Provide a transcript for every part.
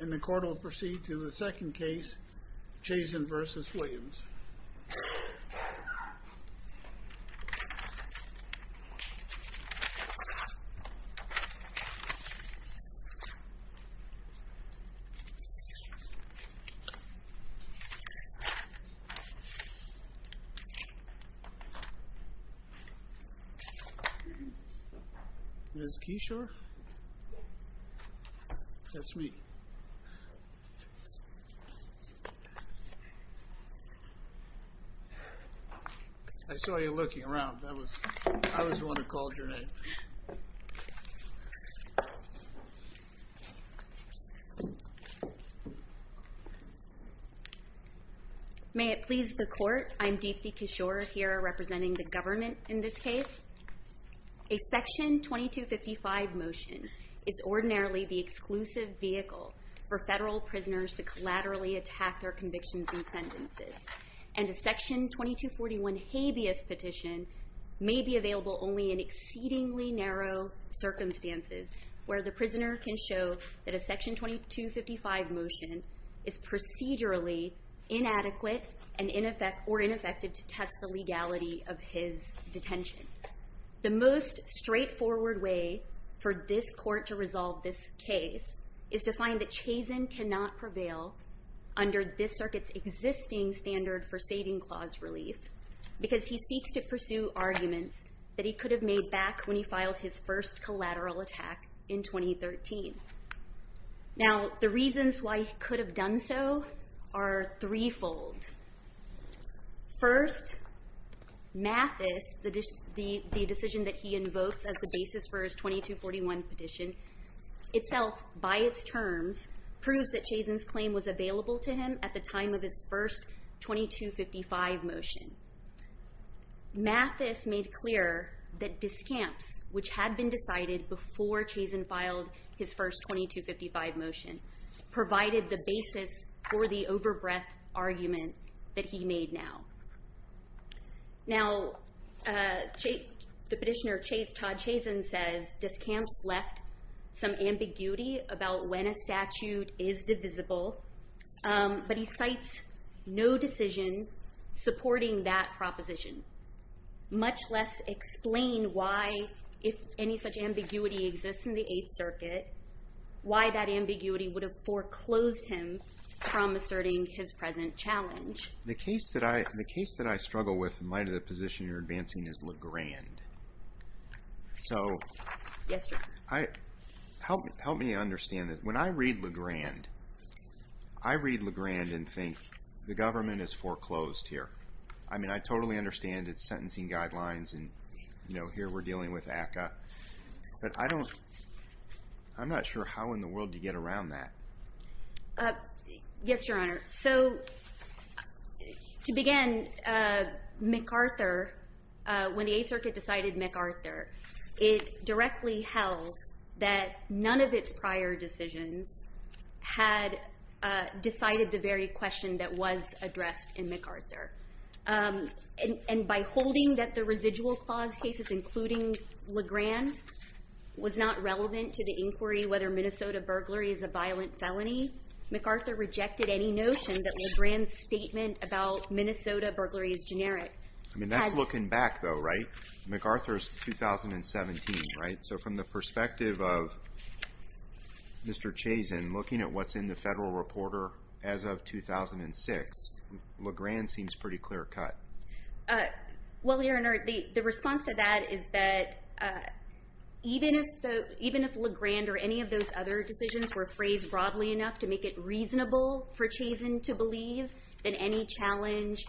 And the court will proceed to the second case, Chazen v. Williams There's Keishore, that's me. I saw you looking around. I was the one who called your name. May it please the court, I'm Deepthi Keishore here representing the government in this case. A Section 2255 motion is ordinarily the exclusive vehicle for federal prisoners to collaterally attack their convictions and sentences And a Section 2241 habeas petition may be available only in exceedingly narrow circumstances Where the prisoner can show that a Section 2255 motion is procedurally inadequate or ineffective to test the legality of his detention The most straightforward way for this court to resolve this case is to find that Chazen cannot prevail under this circuit's existing standard for saving clause relief Because he seeks to pursue arguments that he could have made back when he filed his first collateral attack in 2013 Now the reasons why he could have done so are threefold First, Mathis, the decision that he invokes as the basis for his 2241 petition Itself, by its terms, proves that Chazen's claim was available to him at the time of his first 2255 motion Mathis made clear that discamps, which had been decided before Chazen filed his first 2255 motion Provided the basis for the overbreadth argument that he made now Now, the petitioner, Todd Chazen, says discamps left some ambiguity about when a statute is divisible But he cites no decision supporting that proposition Much less explain why, if any such ambiguity exists in the Eighth Circuit Why that ambiguity would have foreclosed him from asserting his present challenge The case that I struggle with in light of the position you're advancing is Legrand So, help me understand this When I read Legrand, I read Legrand and think the government has foreclosed here I mean, I totally understand its sentencing guidelines and, you know, here we're dealing with ACCA But I don't, I'm not sure how in the world you get around that Yes, Your Honor. So, to begin, MacArthur, when the Eighth Circuit decided MacArthur It directly held that none of its prior decisions had decided the very question that was addressed in MacArthur And by holding that the residual clause cases, including Legrand, was not relevant to the inquiry Whether Minnesota burglary is a violent felony MacArthur rejected any notion that Legrand's statement about Minnesota burglary is generic I mean, that's looking back, though, right? MacArthur's 2017, right? So, from the perspective of Mr. Chazen, looking at what's in the Federal Reporter as of 2006 Legrand seems pretty clear-cut Well, Your Honor, the response to that is that even if Legrand or any of those other decisions were phrased broadly enough To make it reasonable for Chazen to believe that any challenge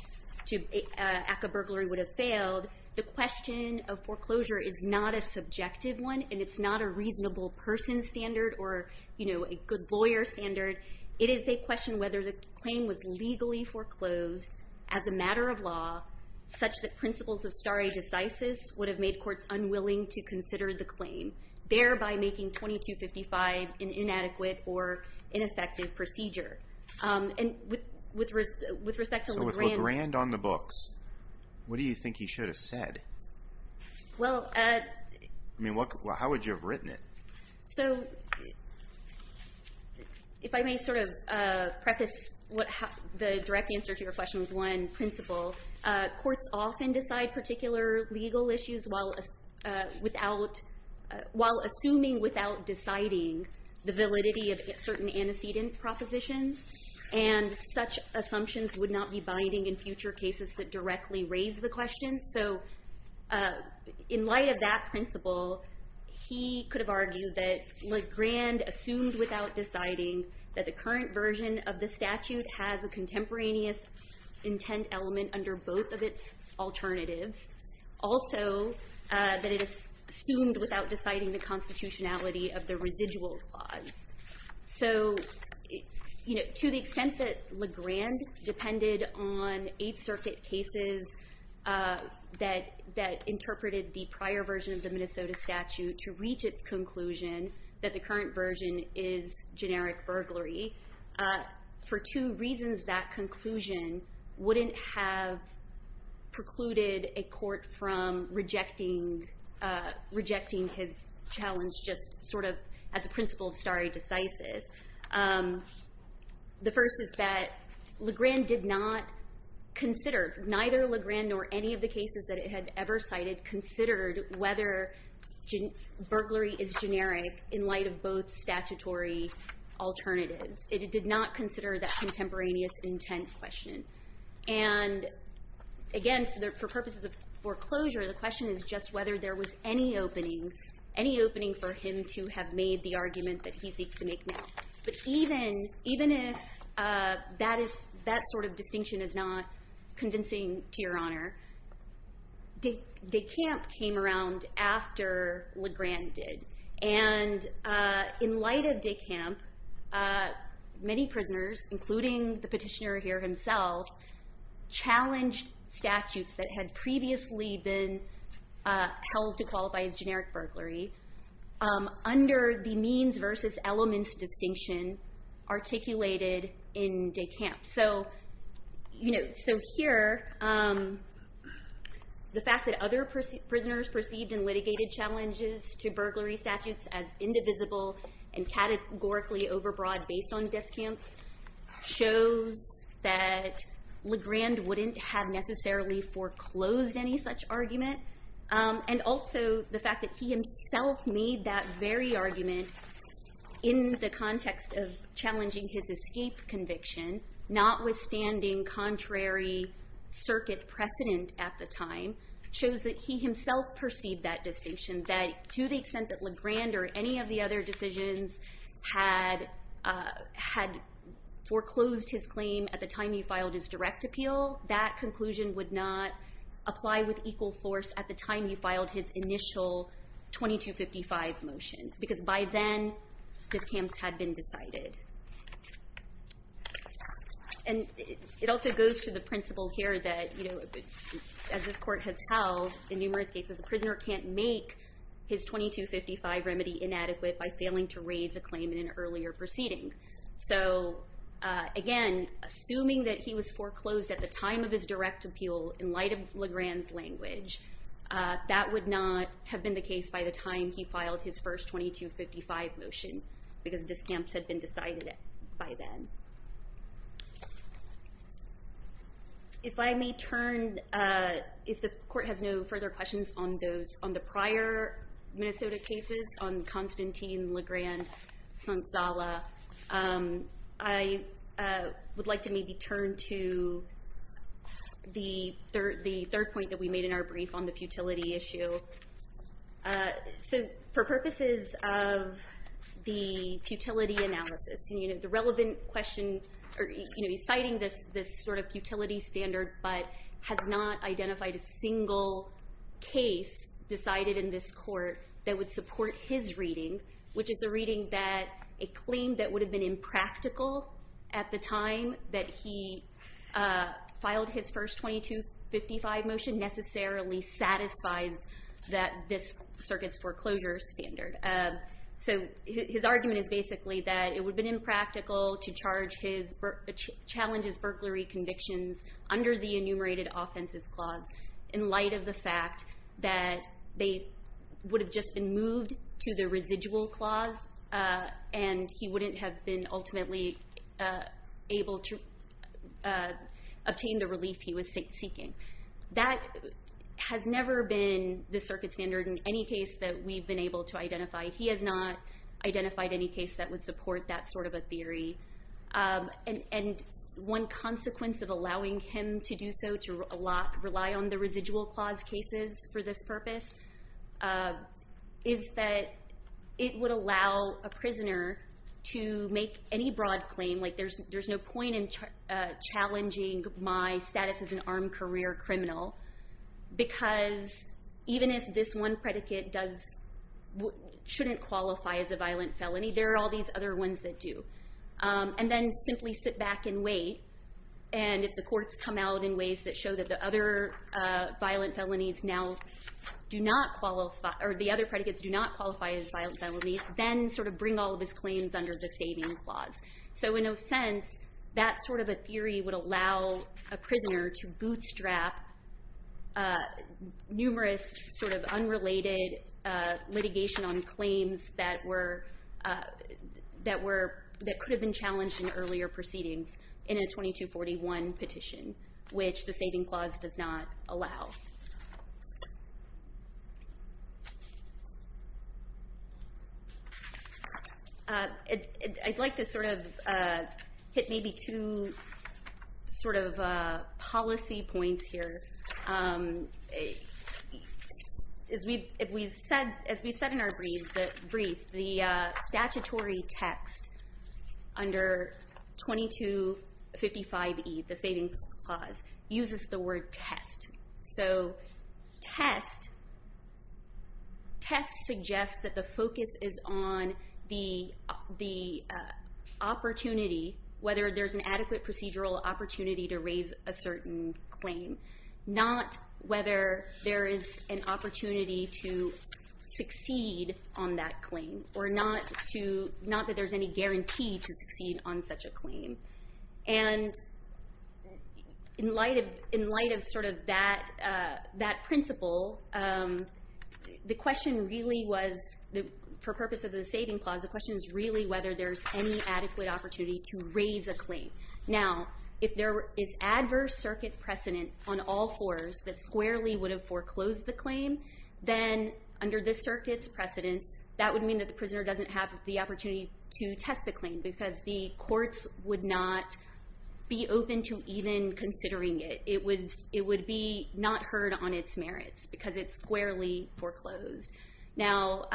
to ACCA burglary would have failed The question of foreclosure is not a subjective one and it's not a reasonable person standard or, you know, a good lawyer standard It is a question whether the claim was legally foreclosed as a matter of law Such that principles of stare decisis would have made courts unwilling to consider the claim Thereby making 2255 an inadequate or ineffective procedure And with respect to Legrand So, with Legrand on the books, what do you think he should have said? Well, uh I mean, how would you have written it? So, if I may sort of preface the direct answer to your question with one principle Courts often decide particular legal issues while assuming without deciding the validity of certain antecedent propositions And such assumptions would not be binding in future cases that directly raise the question So, in light of that principle He could have argued that Legrand assumed without deciding That the current version of the statute has a contemporaneous intent element under both of its alternatives Also, that it is assumed without deciding the constitutionality of the residual clause So, to the extent that Legrand depended on Eighth Circuit cases That interpreted the prior version of the Minnesota statute to reach its conclusion That the current version is generic burglary For two reasons, that conclusion wouldn't have precluded a court from rejecting Rejecting his challenge just sort of as a principle of stare decisis The first is that Legrand did not consider Neither Legrand nor any of the cases that it had ever cited Considered whether burglary is generic in light of both statutory alternatives It did not consider that contemporaneous intent question And again, for purposes of foreclosure The question is just whether there was any opening Any opening for him to have made the argument that he seeks to make now But even if that sort of distinction is not convincing to your honor De Camp came around after Legrand did And in light of De Camp Many prisoners, including the petitioner here himself Challenged statutes that had previously been held to qualify as generic burglary Under the means versus elements distinction articulated in De Camp So here, the fact that other prisoners perceived and litigated challenges To burglary statutes as indivisible and categorically over broad based on De Camp Shows that Legrand wouldn't have necessarily foreclosed any such argument And also the fact that he himself made that very argument In the context of challenging his escape conviction Notwithstanding contrary circuit precedent at the time Shows that he himself perceived that distinction That to the extent that Legrand or any of the other decisions Had foreclosed his claim at the time he filed his direct appeal That conclusion would not apply with equal force at the time he filed his initial 2255 motion Because by then, De Camp's had been decided And it also goes to the principle here that As this court has held in numerous cases A prisoner can't make his 2255 remedy inadequate By failing to raise a claim in an earlier proceeding So again, assuming that he was foreclosed at the time of his direct appeal In light of Legrand's language That would not have been the case by the time he filed his first 2255 motion Because De Camp's had been decided by then If I may turn, if the court has no further questions On the prior Minnesota cases On Constantine Legrand Sanzala I would like to maybe turn to The third point that we made in our brief on the futility issue For purposes of the futility analysis He's citing this sort of futility standard But has not identified a single case Decided in this court that would support his reading Which is a reading that a claim that would have been impractical At the time that he filed his first 2255 motion Necessarily satisfies this circuit's foreclosure standard So his argument is basically that it would have been impractical To challenge his burglary convictions Under the enumerated offenses clause In light of the fact that they would have just been moved To the residual clause And he wouldn't have been ultimately able to Obtain the relief he was seeking That has never been the circuit's standard In any case that we've been able to identify He has not identified any case that would support that sort of a theory And one consequence of allowing him to do so To rely on the residual clause cases for this purpose Is that it would allow a prisoner To make any broad claim Like there's no point in challenging My status as an armed career criminal Because even if this one predicate Shouldn't qualify as a violent felony There are all these other ones that do And then simply sit back and wait And if the courts come out in ways that show that the other Violent felonies now do not qualify Or the other predicates do not qualify as violent felonies Then sort of bring all of his claims under the saving clause So in a sense that sort of a theory would allow A prisoner to bootstrap Numerous sort of unrelated Litigation on claims that were That could have been challenged in earlier proceedings In a 2241 petition Which the saving clause does not allow I'd like to sort of Hit maybe two sort of Policy points here As we've said in our brief The statutory text Under 2255E The saving clause uses the word test So test Test suggests that the focus is on The opportunity Whether there's an adequate procedural opportunity to raise A certain claim Not whether there is an opportunity to Succeed on that claim Or not that there's any guarantee to succeed on such a claim And In light of sort of that Principle The question really was For the purpose of the saving clause The question is really whether there's any adequate opportunity to raise a claim Now if there is adverse circuit precedent On all fours that squarely would have foreclosed the claim Then under this circuit's precedence That would mean that the prisoner doesn't have the opportunity To test the claim because the courts would not Be open to even considering it It would be not heard on its merits Because it's squarely foreclosed Now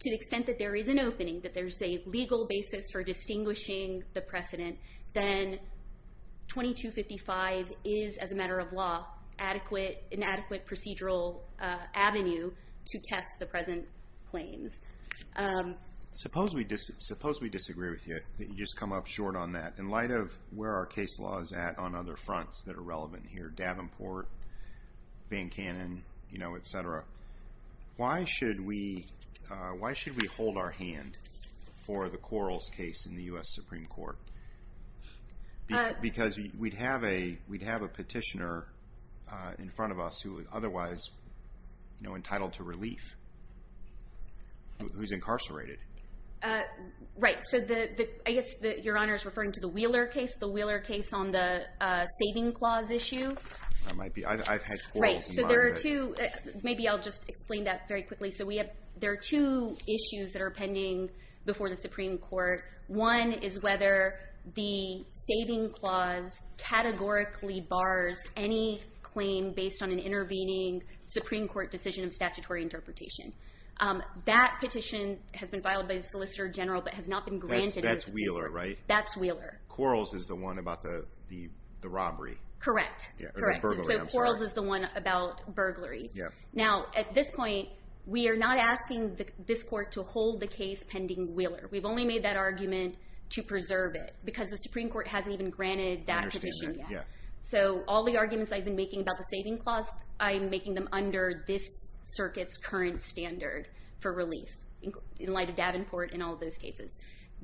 to the extent that there is an opening That there's a legal basis for distinguishing the precedent Then 2255 Is as a matter of law an adequate procedural Avenue to test the present Claims Suppose we disagree with you That you just come up short on that In light of where our case law is at on other fronts that are relevant here Davenport, Van Canen, etc. Why should we hold our hand For the Quarles case in the U.S. Supreme Court Because we'd have a Petitioner in front of us Who is otherwise entitled to relief Who's incarcerated Right, so I guess your Honor is referring to the Wheeler case The Wheeler case on the saving clause issue I've had Quarles in mind Maybe I'll just explain that very quickly There are two issues that are pending Before the Supreme Court One is whether the saving clause categorically Bars any claim based on an intervening Supreme Court decision of statutory interpretation That petition has been filed by the Solicitor General But has not been granted Quarles is the one about the robbery Correct Now at this point We are not asking this court to hold the case pending Wheeler We've only made that argument to preserve it Because the Supreme Court hasn't even granted that petition yet So all the arguments I've been making about the saving clause I'm making them under this circuit's current standard For relief, in light of Davenport and all those cases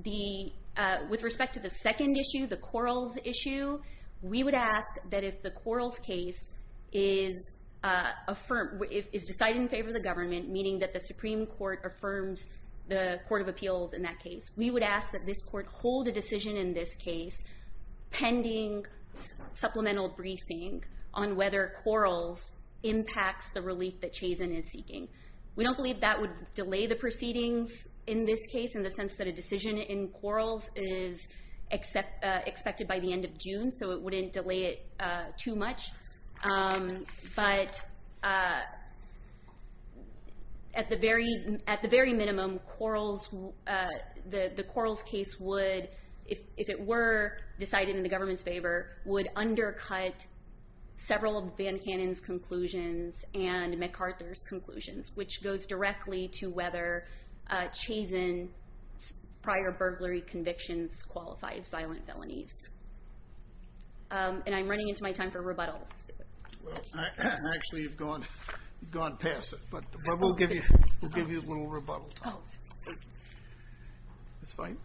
With respect to the second issue The Quarles issue We would ask that if the Quarles case Is decided in favor of the government Meaning that the Supreme Court affirms the Court of Appeals In that case, we would ask that this court hold a decision In this case pending Supplemental briefing on whether Quarles Impacts the relief that Chazen is seeking We don't believe that would delay the proceedings in this case In the sense that a decision in Quarles is Expected by the end of June So it wouldn't delay it too much But At the very minimum The Quarles case would If it were decided in the government's favor Would undercut several of Van Cannon's conclusions And MacArthur's conclusions Which goes directly to whether Chazen's prior burglary convictions Qualify as violent felonies And I'm running into my time for rebuttals Actually you've gone past it But we'll give you a little rebuttal time It's fine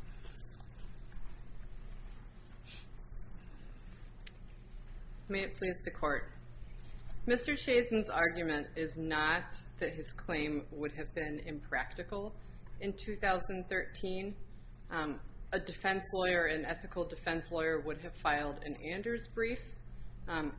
May it please the court Mr. Chazen's argument is not That his claim would have been impractical In 2013 A defense lawyer, an ethical defense lawyer would have filed An Anders brief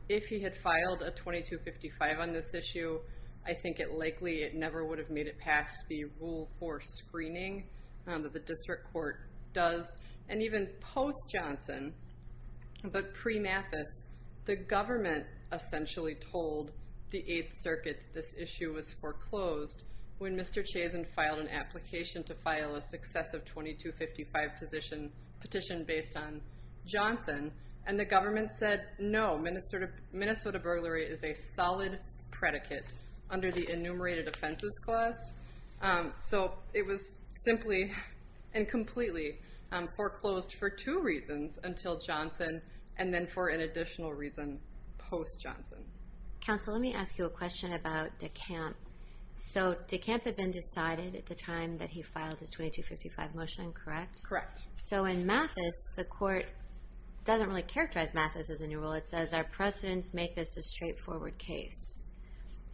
If he had filed a 2255 on this issue I think it likely It never would have made it past the rule 4 screening That the district court does And even post-Johnson But pre-Mathis The government essentially told the 8th circuit This issue was foreclosed When Mr. Chazen filed an application To file a successive 2255 petition Based on Johnson And the government said no Minnesota burglary is a solid predicate Under the enumerated offenses clause So it was simply and completely Foreclosed for two reasons Until Johnson and then for an additional reason Post-Johnson Counsel, let me ask you a question about DeCamp So DeCamp had been decided at the time That he filed his 2255 motion, correct? So in Mathis, the court Doesn't really characterize Mathis as a new rule It says our precedents make this a straightforward case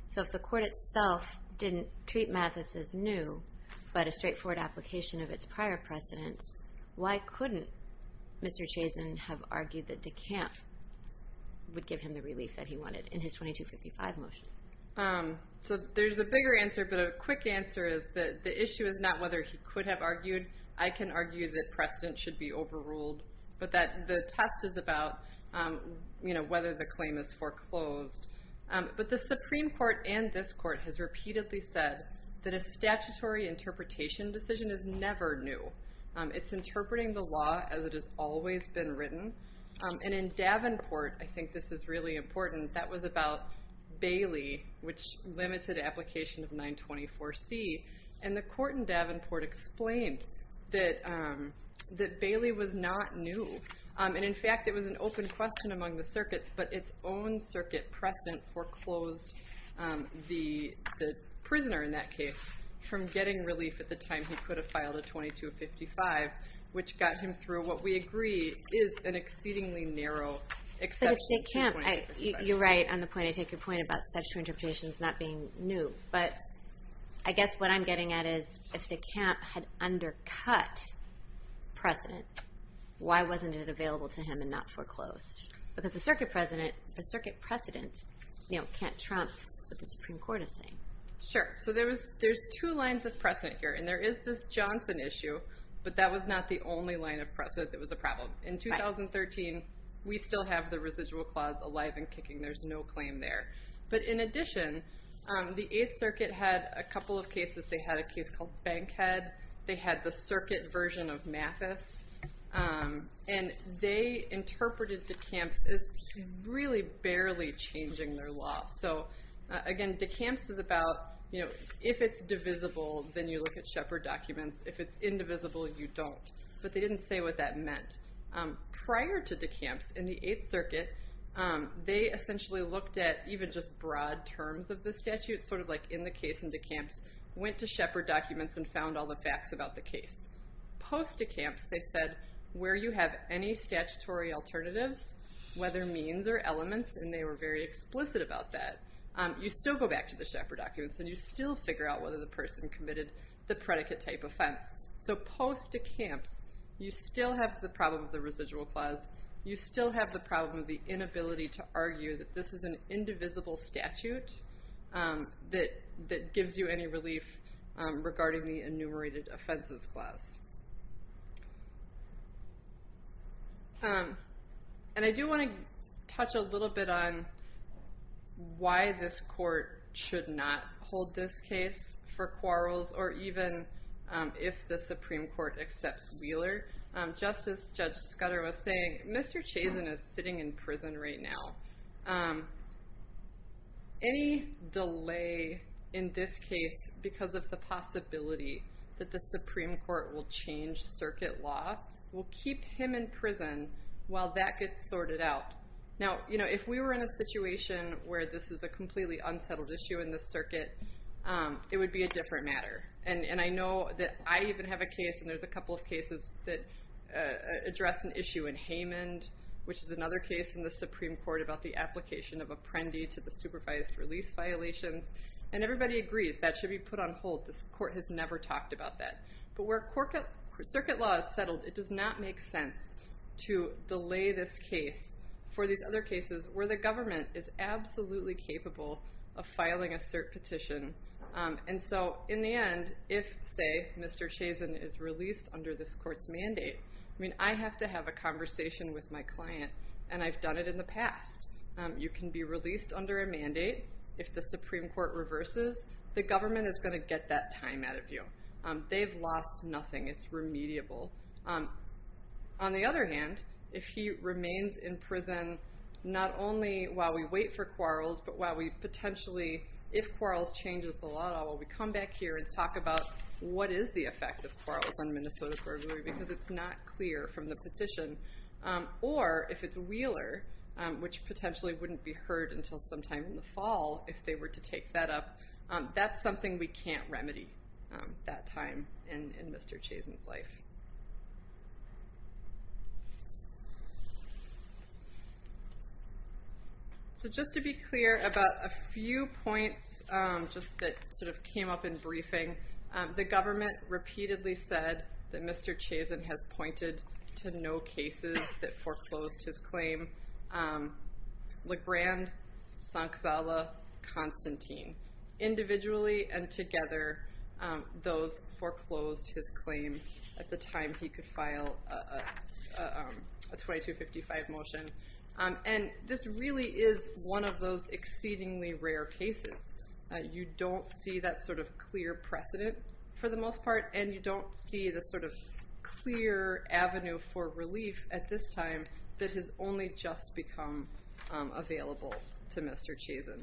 So if the court itself didn't treat Mathis as new But a straightforward application of its prior precedents Why couldn't Mr. Chazen have argued that DeCamp Would give him the relief that he wanted in his 2255 motion? So there's a bigger answer But a quick answer is that the issue is not whether he could have argued I can argue that precedent should be overruled But that the test is about Whether the claim is foreclosed But the Supreme Court and this court has repeatedly said That a statutory interpretation decision is never new It's interpreting the law as it has always been written And in Davenport, I think this is really important That was about Bailey Which limited application of 924C And the court in Davenport explained That Bailey was not new And in fact it was an open question among the circuits But its own circuit precedent foreclosed The prisoner in that case From getting relief at the time he could have filed a 2255 Which got him through what we agree Is an exceedingly narrow exception You're right on the point About statutory interpretations not being new But I guess what I'm getting at is If DeCamp had undercut precedent Why wasn't it available to him and not foreclosed? Because the circuit precedent can't trump What the Supreme Court is saying Sure, so there's two lines of precedent here And there is this Johnson issue But that was not the only line of precedent that was a problem In 2013, we still have the residual clause alive and kicking There's no claim there But in addition, the 8th Circuit had a couple of cases They had a case called Bankhead They had the circuit version of Mathis And they interpreted DeCamps as really barely changing their law So again, DeCamps is about If it's divisible, then you look at Shepard documents If it's indivisible, you don't But they didn't say what that meant Prior to DeCamps, in the 8th Circuit They essentially looked at even just broad terms of the statute Sort of like in the case in DeCamps Went to Shepard documents and found all the facts about the case Post-DeCamps, they said Where you have any statutory alternatives Whether means or elements And they were very explicit about that You still go back to the Shepard documents and you still figure out Whether the person committed the predicate type offense So post-DeCamps, you still have the problem of the residual clause You still have the problem of the inability to argue That this is an indivisible statute That gives you any relief regarding the enumerated offenses clause And I do want to Touch a little bit on Why this court should not hold this case For quarrels or even If the Supreme Court accepts Wheeler Just as Judge Scudder was saying Mr. Chazen is sitting in prison right now Any delay in this case Because of the possibility That the Supreme Court will change circuit law Will keep him in prison while that gets sorted out Now, you know, if we were in a situation Where this is a completely unsettled issue in the circuit It would be a different matter And I know that I even have a case And there's a couple of cases that address an issue in Haymond Which is another case in the Supreme Court About the application of Apprendi to the supervised release violations And everybody agrees that should be put on hold This court has never talked about that But where circuit law is settled, it does not make sense To delay this case for these other cases Where the government is absolutely capable Of filing a cert petition And so, in the end, if, say, Mr. Chazen is released Under this court's mandate I mean, I have to have a conversation with my client And I've done it in the past You can be released under a mandate If the Supreme Court reverses The government is going to get that time out of you They've lost nothing, it's remediable On the other hand, if he remains in prison Not only while we wait for Quarles But while we potentially, if Quarles changes the law While we come back here and talk about what is the effect of Quarles On Minnesota's burglary, because it's not clear from the petition Or if it's Wheeler Which potentially wouldn't be heard until sometime in the fall If they were to take that up That's something we can't remedy that time in Mr. Chazen's life So just to be clear about a few points Just that sort of came up in briefing The government repeatedly said That Mr. Chazen has pointed to no cases That foreclosed his claim Legrand, Sanzala, Constantine Individually and together Those foreclosed his claim At the time he could file A 2255 motion And this really is one of those exceedingly rare cases You don't see that sort of clear precedent For the most part And you don't see the sort of clear avenue for relief At this time that has only just become available To Mr. Chazen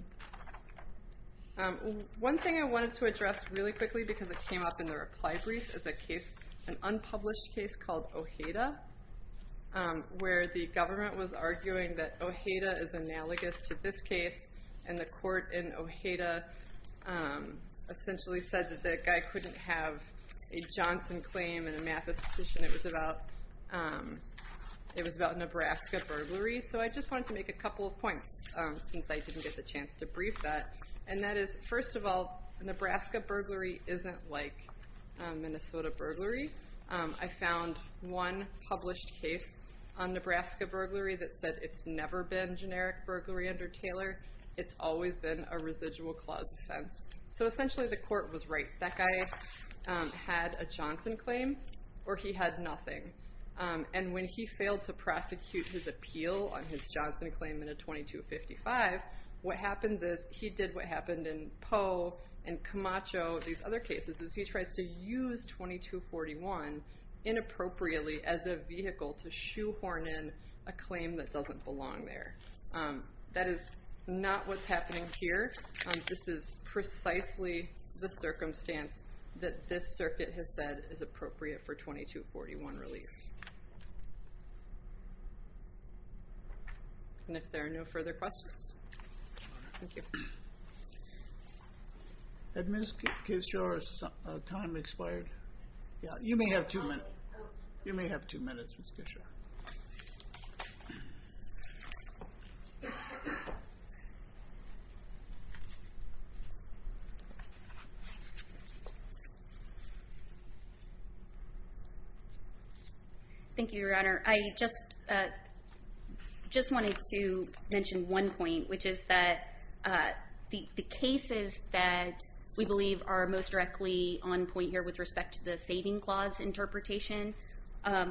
One thing I wanted to address really quickly Because it came up in the reply brief Is an unpublished case called Ojeda Where the government was arguing that Ojeda is analogous To this case And the court in Ojeda essentially said That the guy couldn't have a Johnson claim And a Mathis petition It was about Nebraska burglary So I just wanted to make a couple of points Since I didn't get the chance to brief that And that is first of all Nebraska burglary isn't like Minnesota burglary I found one published case On Nebraska burglary that said it's never been Generic burglary under Taylor It's always been a residual clause offense So essentially the court was right That guy had a Johnson claim or he had nothing And when he failed to prosecute his appeal On his Johnson claim in a 2255 What happens is he did what happened in Poe And Camacho and these other cases Is he tries to use 2241 inappropriately As a vehicle to shoehorn in a claim That doesn't belong there That is not what's happening here This is precisely the circumstance That this circuit has said is appropriate For 2241 relief And if there are no further questions Thank you Had Ms. Kishore's time expired? You may have two minutes You may have two minutes Ms. Kishore Thank you your honor I just wanted to Mention one point which is that The cases that we believe are Most directly on point here with respect to the saving clause Interpretation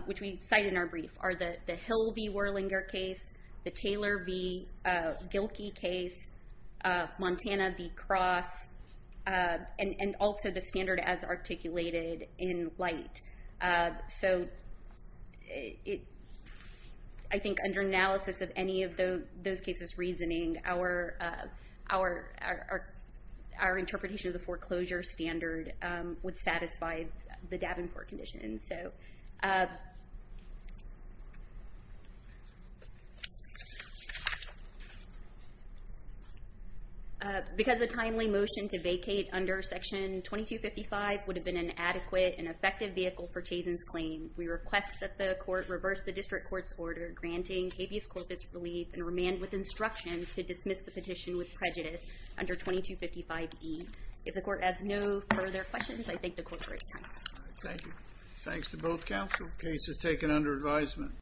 which we cite in our brief Are the Hill v. Worlinger case The Taylor v. Gilkey case Montana v. Cross And also the standard as articulated in light So I think under analysis of any of those Cases reasoning Our interpretation of the foreclosure standard Would satisfy the Davenport condition Because a timely motion to vacate under section 2255 Would have been an adequate and effective vehicle for Chazen's claim We request that the court reverse the district court's order Granting habeas corpus relief and remand with instructions To dismiss the petition with prejudice under 2255E If the court has no further questions I thank the court for its time Thanks to both counsel